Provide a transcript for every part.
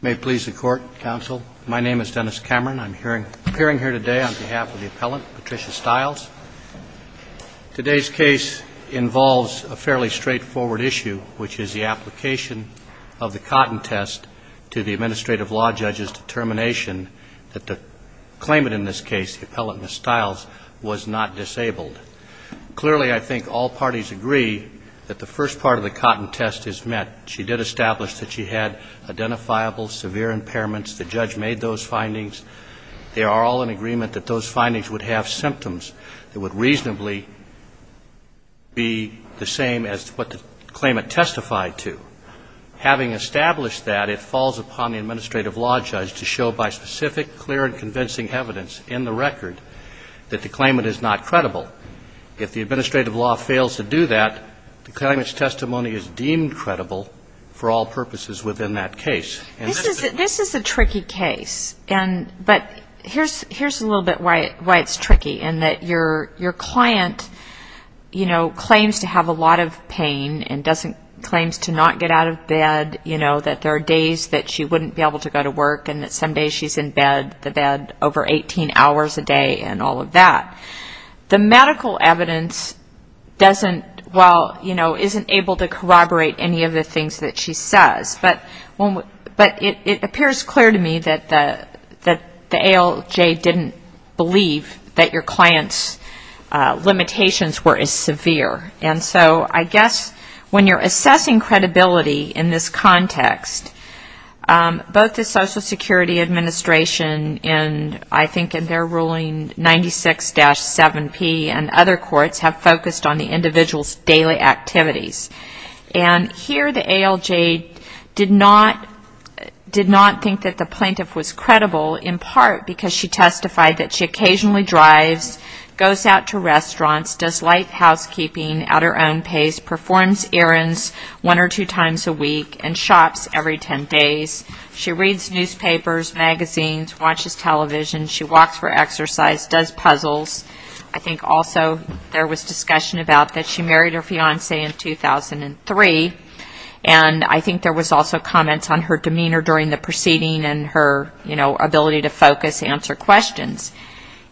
May it please the Court, Counsel. My name is Dennis Cameron. I'm appearing here today on behalf of the Appellant, Patricia Stiles. Today's case involves a fairly straightforward issue, which is the application of the Cotton Test to the Administrative Law Judge's determination that the claimant in this case, the Appellant, Ms. Stiles, was not disabled. Clearly, I think all parties agree that the first part of the Cotton Test is met. She did establish that she had identifiable severe impairments. The judge made those findings. They are all in agreement that those findings would have symptoms that would reasonably be the same as what the claimant testified to. Having established that, it falls upon the Administrative Law Judge to show by specific, clear and convincing evidence in the record that the claimant is not credible. If the Administrative Law fails to do that, the claimant's testimony is deemed credible for all purposes within that case. This is a tricky case, but here's a little bit why it's tricky, in that your client claims to have a lot of pain and claims to not get out of bed, that there are days that she wouldn't be able to go to work and that some days she's in bed, the bed over 18 hours a day and all of that. The medical evidence isn't able to corroborate any of the things that she says. It appears clear to me that the ALJ didn't believe that your client's limitations were as severe. When you're assessing credibility in this context, both the Social Security Administration and I think in their ruling 96-7P and other courts have focused on the individual's daily activities. Here the ALJ did not think that the plaintiff was credible, in part because she testified that she occasionally drives, goes out to restaurants, does light housekeeping at her own pace, performs errands one or two times a week, and shops every 10 days. She reads newspapers, magazines, watches television, she walks for exercise, does puzzles. I think also there was discussion about that she married her fiancé in 2003, and I think there was also comments on her demeanor during the proceeding and her ability to focus, answer questions.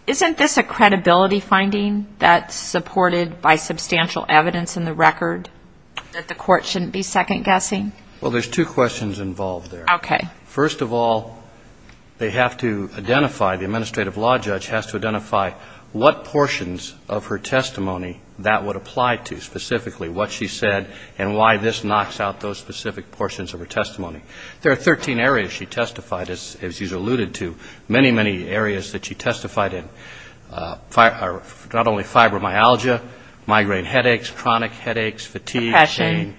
Isn't this a credibility finding that's supported by substantial evidence in the record that the court shouldn't be second-guessing? Well, there's two questions involved there. First of all, they have to identify, the Administrative Law Judge has to identify what portions of her testimony that would apply to, specifically what she said and why this knocks out those specific portions of her testimony. There are 13 areas she testified, as she's alluded to, many, many areas that she testified in, not only fibromyalgia, migraine headaches, chronic headaches, fatigue, pain,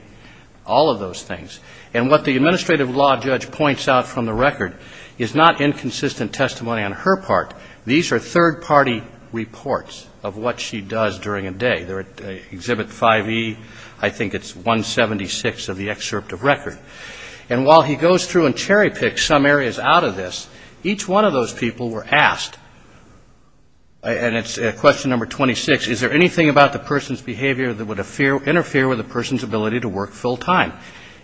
all of those things. And what the Administrative Law Judge points out from the record is not inconsistent testimony on her part. These are third-party reports of what she does during a day. They're at Exhibit 5E, I think it's 176 of the excerpt of record. And while he goes through and cherry-picks some areas out of this, each one of those people were asked, and it's question number 26, is there anything about the person's behavior that would interfere with the person's ability to work full-time?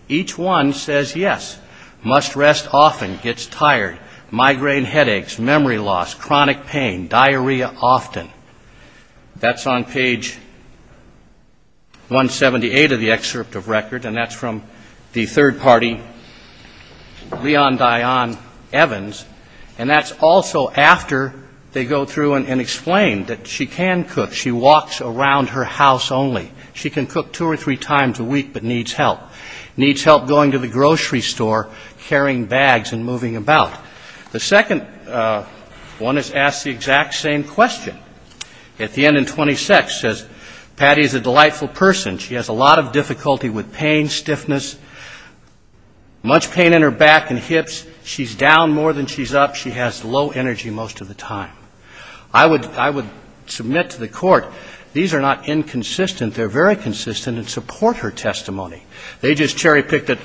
Each one says yes. Must often. That's on page 178 of the excerpt of record, and that's from the third-party, Leon Dion Evans, and that's also after they go through and explain that she can cook. She walks around her house only. She can cook two or three times a week, but needs help. Needs help going to the grocery store, carrying bags and moving about. The second one is asked the exact same question. At the end in 26 says, Patty is a delightful person. She has a lot of difficulty with pain, stiffness, much pain in her back and hips. She's down more than she's up. She has low energy most of the time. I would submit to the Court, these are not inconsistent. They're very consistent and support her testimony. They just cherry-picked it.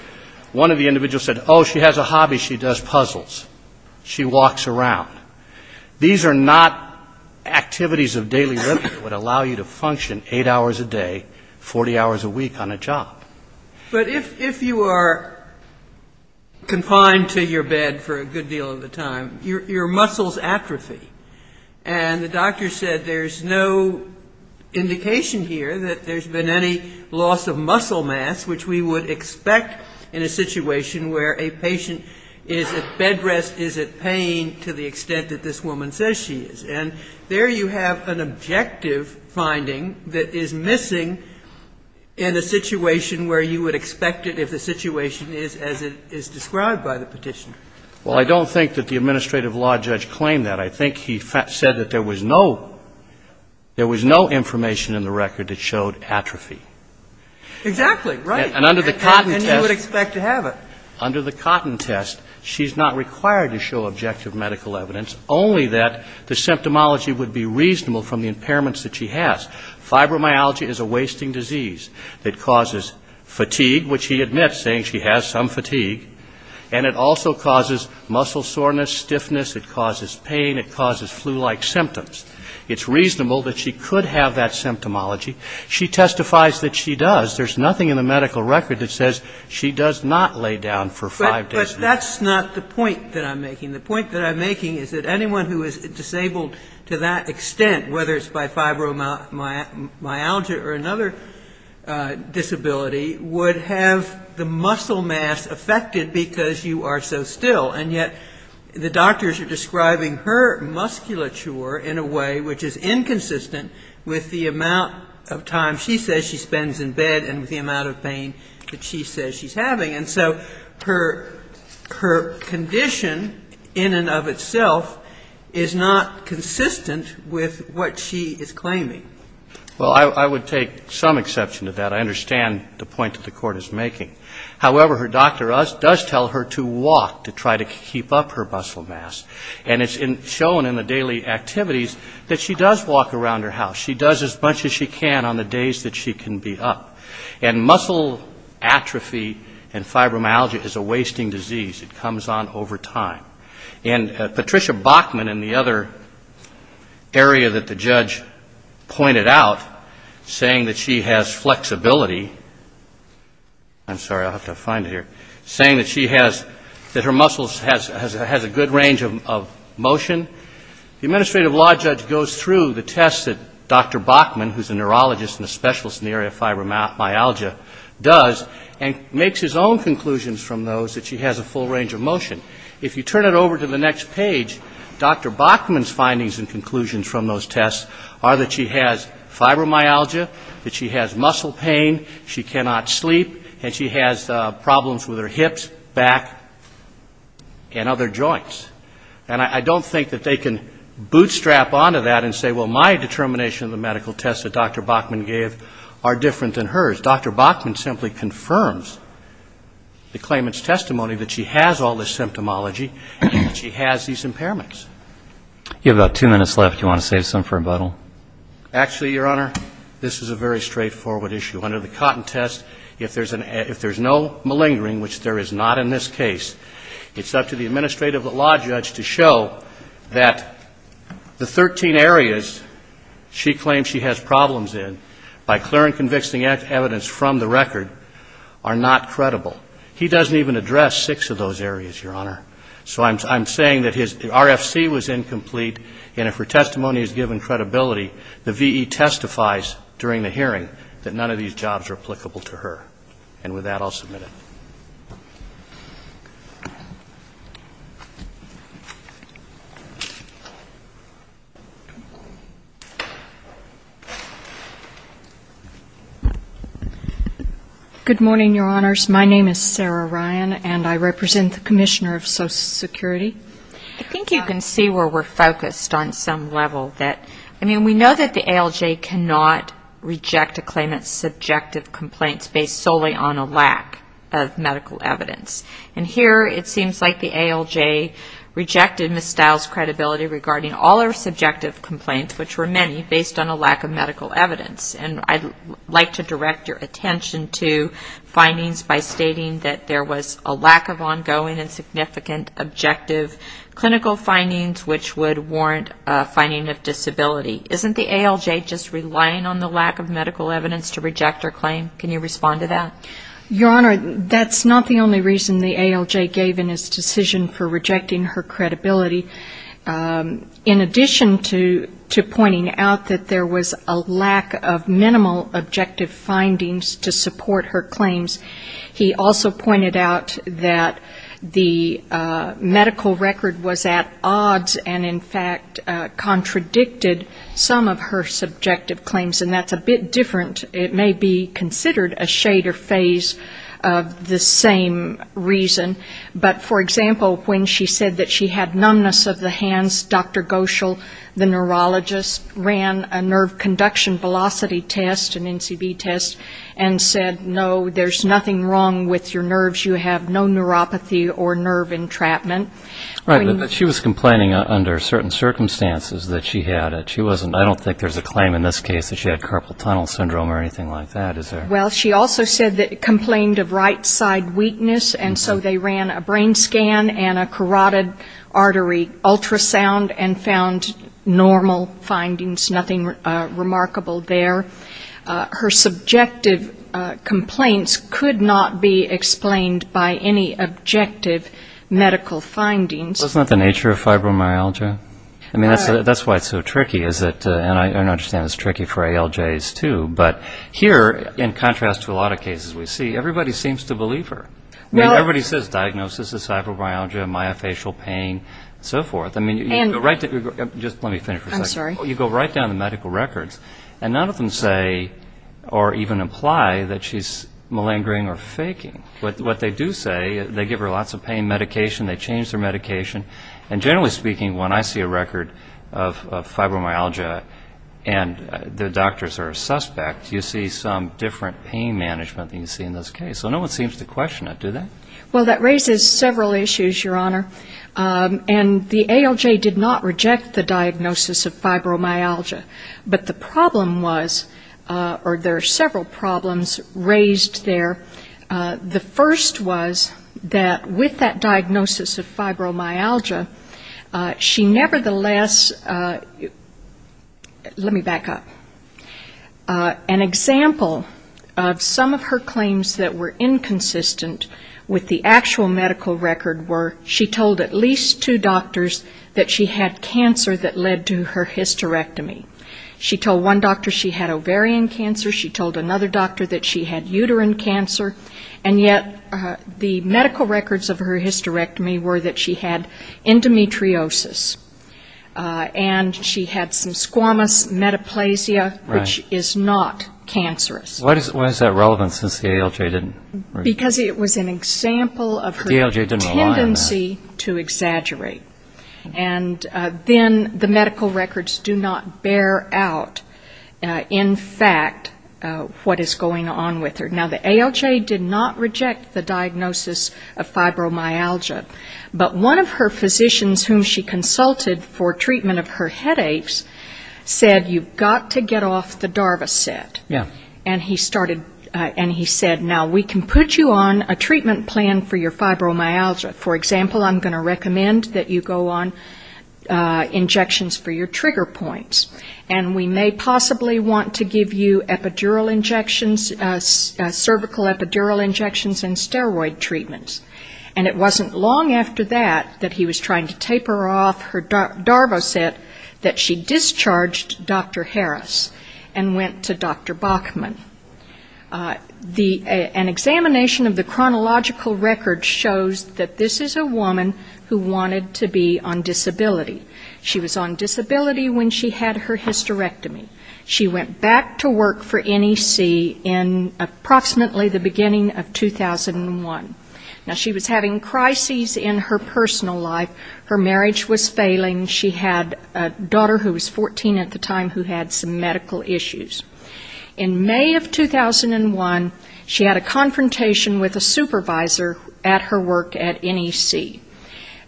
One of the individuals said, oh, she has a hobby. She does puzzles. She walks around. These are not activities of daily living that would allow you to function eight hours a day, 40 hours a week on a job. But if you are confined to your bed for a good deal of the time, your muscles atrophy, and the doctor said there's no indication here that there's been any loss of muscle mass, which we would expect in a situation where a patient is at bed rest, is at pain to the extent that this woman says she is. And there you have an objective finding that is missing in a situation where you would expect it if the situation is as it is described by the petition. Well, I don't think that the administrative law judge claimed that. I think he said that there was no – there was no information in the record that showed atrophy. Exactly. Right. And under the Cotton test – And you would expect to have it. Under the Cotton test, she's not required to show objective medical evidence, only that the symptomology would be reasonable from the impairments that she has. Fibromyalgia is a wasting disease that causes fatigue, which he admits, saying she has some fatigue. And it also causes muscle soreness, stiffness. It causes pain. It causes flu-like symptoms. It's reasonable that she could have that symptomology. She testifies that she does. There's nothing in the medical record that says she does not lay down for five days a week. But that's not the point that I'm making. The point that I'm making is that anyone who is disabled to that extent, whether it's by fibromyalgia or another disability, would have the muscle mass affected because you are so still. And yet the doctors are describing her musculature in a way which is inconsistent with the amount of time she says she spends in bed and with the amount of pain that she says she's having. And so her condition in and of itself is not consistent with what she is claiming. Well, I would take some exception to that. I understand the point that the Court is making. However, her doctor does tell her to walk to try to keep up her muscle mass. And it's shown in the daily activities that she does walk around her house. She does as much as she can on the days that she can be up. And muscle atrophy and fibromyalgia is a wasting disease. It comes on over time. And Patricia Bachman in the other area that the judge pointed out, saying that she has flexibility, I'm sorry, I'll have to find it here, saying that she has, that her muscles has a good range of motion, the administrative law judge goes through the tests that Dr. Bachman, a neurologist and a specialist in the area of fibromyalgia, does and makes his own conclusions from those that she has a full range of motion. If you turn it over to the next page, Dr. Bachman's findings and conclusions from those tests are that she has fibromyalgia, that she has muscle pain, she cannot sleep, and she has problems with her hips, back, and other joints. And I don't think that they can bootstrap onto that and say, well, my determination of the medical tests that Dr. Bachman gave are different than hers. Dr. Bachman simply confirms the claimant's testimony that she has all this symptomology and that she has these impairments. You have about two minutes left. Do you want to save some for rebuttal? Actually, Your Honor, this is a very straightforward issue. Under the Cotton Test, if there's no malingering, which there is not in this case, it's up to the administrative law judge to show that the 13 areas she claims she has problems in, by clear and convicting evidence from the record, are not credible. He doesn't even address six of those areas, Your Honor. So I'm saying that his RFC was incomplete, and if her testimony is given credibility, the V.E. testifies during the hearing that none of these jobs are applicable to her. And with that, I'll submit it. Good morning, Your Honors. My name is Sarah Ryan, and I represent the Commissioner of Social Security. I think you can see where we're focused on some level. I mean, we know that the ALJ cannot reject a claimant's subjective complaints based solely on a lack of medical evidence. And here, it seems like the ALJ rejected Ms. Stiles' credibility regarding all her subjective complaints, which were many, based on a lack of medical evidence. And I'd like to direct your attention to findings by stating that there was a lack of ongoing and significant objective clinical findings, which would warrant a finding of disability. Isn't the ALJ just relying on the lack of medical evidence to reject her claim? Can you respond to that? Your Honor, that's not the only reason the ALJ gave in its decision for rejecting her credibility. In addition to pointing out that there was a lack of minimal objective findings to support her claims, he also pointed out that the medical record was at odds, and in some of her subjective claims, and that's a bit different. It may be considered a shader phase of the same reason. But for example, when she said that she had numbness of the hands, Dr. Goschel, the neurologist, ran a nerve conduction velocity test, an NCB test, and said, no, there's nothing wrong with your nerves. You have no neuropathy or nerve entrapment. Right. But she was complaining under certain circumstances that she had it. She wasn't – I don't think there's a claim in this case that she had carpal tunnel syndrome or anything like that, is there? Well, she also said that – complained of right side weakness, and so they ran a brain scan and a carotid artery ultrasound and found normal findings, nothing remarkable there. Her subjective complaints could not be explained by any objective medical findings. Well, isn't that the nature of fibromyalgia? I mean, that's why it's so tricky, is it? And I understand it's tricky for ALJs, too, but here, in contrast to a lot of cases we see, everybody seems to believe her. I mean, everybody says diagnosis is fibromyalgia, myofascial pain, and so forth. I mean, you go right – just let me finish for a second. I'm sorry. You go right down the medical records, and none of them say or even imply that she's malingering or faking. What they do say, they give her lots of pain medication, they change her medication, and generally speaking, when I see a record of fibromyalgia and the doctors are a suspect, you see some different pain management than you see in this case. So no one seems to question it, do they? Well, that raises several issues, Your Honor, and the ALJ did not reject the diagnosis of fibromyalgia, but the problem was – or there are several problems raised there. The first was that with that diagnosis of fibromyalgia, she nevertheless – let me back up. An example of some of her claims that were inconsistent with the actual medical record were she told at least two doctors that she had cancer that led to her hysterectomy. She told one doctor she had ovarian cancer. She told another doctor that she had uterine cancer. And yet the medical records of her hysterectomy were that she had endometriosis, and she had some squamous metaplasia, which is not cancerous. Why is that relevant since the ALJ didn't? Because it was an example of her tendency to exaggerate. And then the medical records do not bear out, in fact, what is going on with her. Now, the ALJ did not reject the diagnosis of fibromyalgia, but one of her physicians whom she consulted for treatment of her headaches said you've got to get off the Darva set. And he started – and he said now we can put you on a treatment plan for your fibromyalgia. For example, I'm going to recommend that you go on injections for your trigger points. And we may possibly want to give you epidural injections, cervical epidural injections and steroid treatments. And it wasn't long after that that he was trying to taper off her Darva set that she discharged Dr. Harris and went to Dr. Bachman. An examination of the chronological record shows that this is a woman who wanted to be on disability. She was on disability when she had her hysterectomy. She went back to work for NEC in approximately the beginning of 2001. Now, she was having crises in her personal life. Her marriage was failing. She had a daughter who was 14 at the time who had some medical issues. In May of 2001, she had a confrontation with a supervisor at her work at NEC.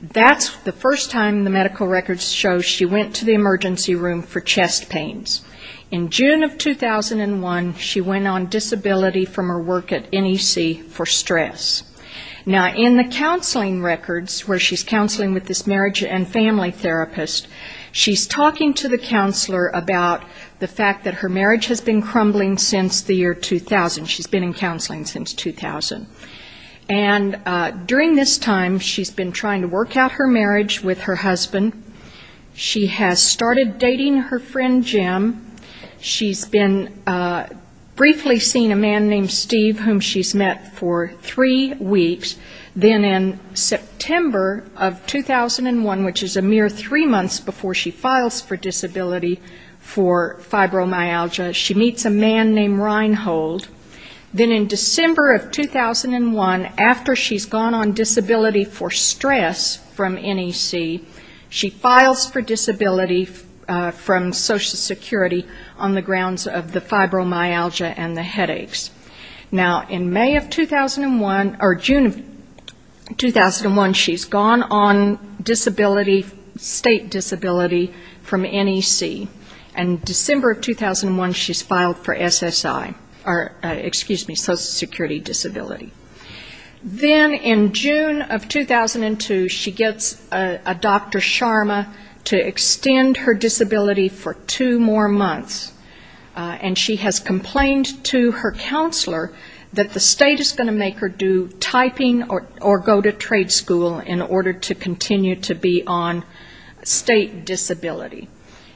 That's the first time the medical records show she went to the emergency room for chest pains. In June of 2001, she went on disability from her work at NEC for stress. Now, in the counseling records where she's counseling with this marriage and family therapist, she's talking to the counselor about the fact that her marriage has been crumbling since the year 2000. She's been in counseling since 2000. And during this time, she's been trying to work out her marriage with her husband. She has started dating her friend Jim. She's been briefly seeing a man named Steve whom she's met for three weeks. Then in September of 2001, which is a mere three months before she files for disability for fibromyalgia, she meets a man named Reinhold. Then in December of 2001, after she's gone on disability for stress from NEC, she files for disability from Social Security on the other hand. In 2001, she's gone on state disability from NEC. And December of 2001, she's filed for SSI, or excuse me, Social Security disability. Then in June of 2002, she gets a Dr. Sharma to extend her disability for two more months. And she has complained to her counselor that the state is going to make her do typing or go to trade school in order to continue to be on state disability.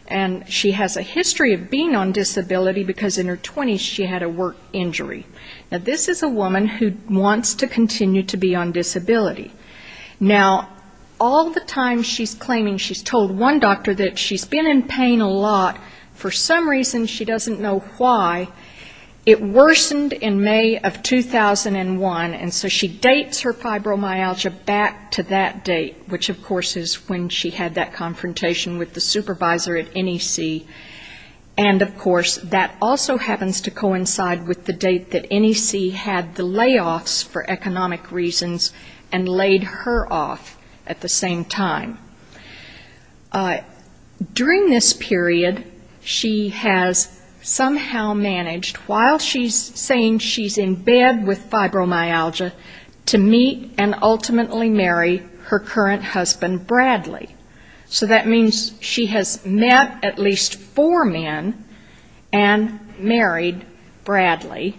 And she has a history of being on disability because in her 20s she had a work injury. Now this is a woman who wants to continue to be on disability. Now all the time she's claiming she's told one doctor that she's been in pain a lot. For some reason, she doesn't know why, it worsened in May of 2001. And so she dates her fibromyalgia back to that date, which of course is when she had that confrontation with the supervisor at NEC. And of course, that also happens to coincide with the date that NEC had the layoffs for economic reasons and laid her off at the same time. During this period, she has somehow managed, while she's saying she's in bed with fibromyalgia, to meet and ultimately marry her current husband, Bradley. So that means she has met at least four men and married Bradley.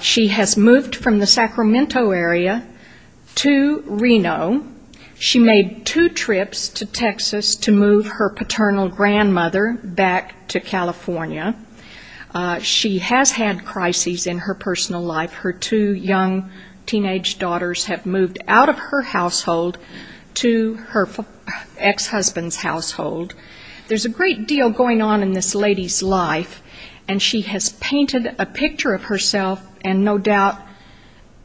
She has moved from the Sacramento area to Reno. She made two trips to Texas to move her paternal grandmother back to California. She has had crises in her personal life. Her two young teenage daughters have moved out of her household to her ex-husband's household. There's a great deal going on in this lady's life, and she has painted a picture of herself and no doubt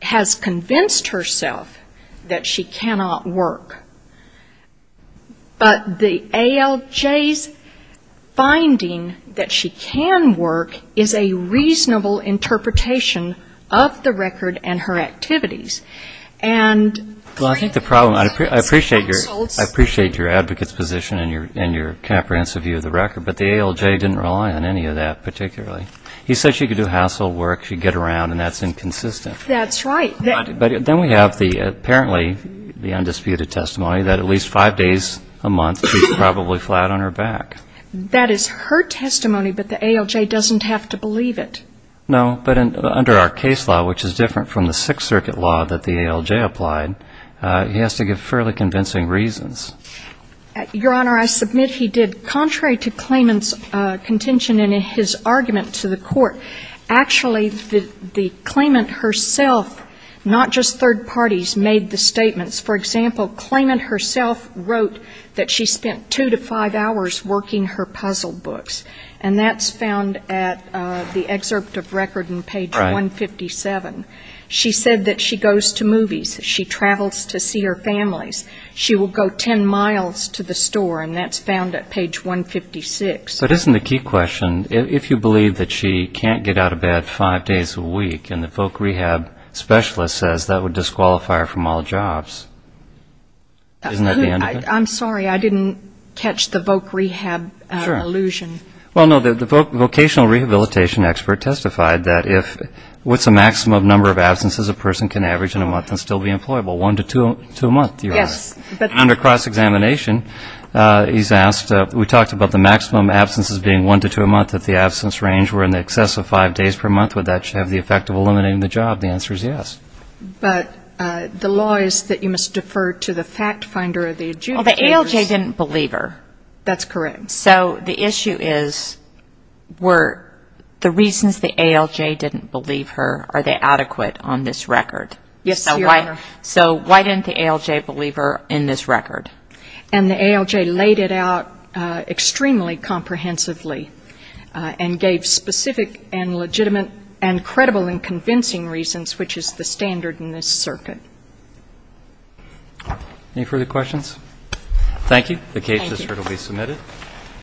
has convinced herself that she cannot work. But the ALJ's finding that she can work is a reasonable interpretation of the record and her activities. And I think the problem, I appreciate your advocate's position and your comprehensive view of the record, but the ALJ didn't rely on any of that particularly. He said she could do household work, she'd get around, and that's inconsistent. That's right. Then we have apparently the undisputed testimony that at least five days a month she's probably flat on her back. That is her testimony, but the ALJ doesn't have to believe it. No. But under our case law, which is different from the Sixth Circuit law that the ALJ applied, he has to give fairly convincing reasons. Your Honor, I submit he did. Contrary to Claimant's contention in his argument to the Court, actually the Claimant herself, not just third parties, made the statements. For example, Claimant herself wrote that she spent two to five hours working her puzzle books, and that's found at the excerpt of record on page 157. Right. She said that she goes to movies, she travels to see her families, she will go ten miles to the store, and that's found at page 156. But isn't the key question, if you believe that she can't get out of bed five days a week and the voc rehab specialist says that would disqualify her from all jobs, isn't that the end of it? I'm sorry. I didn't catch the voc rehab illusion. Sure. Well, no, the vocational rehabilitation expert testified that if what's the maximum number of absences a person can average in a month and still be employable, one to two a month, Your Honor. Yes. And under cross-examination, he's asked, we talked about the maximum absences being one to two a month. If the absence range were in excess of five days per month, would that have the effect of eliminating the job? The answer is yes. But the law is that you must defer to the fact finder or the adjudicators. Well, the ALJ didn't believe her. That's correct. So the issue is were the reasons the ALJ didn't believe her, are they adequate on this record? Yes, Your Honor. So why didn't the ALJ believe her in this record? And the ALJ laid it out extremely comprehensively and gave specific and legitimate and credible and convincing reasons, which is the standard in this circuit. Any further questions? Thank you. Thank you. The case is certainly submitted.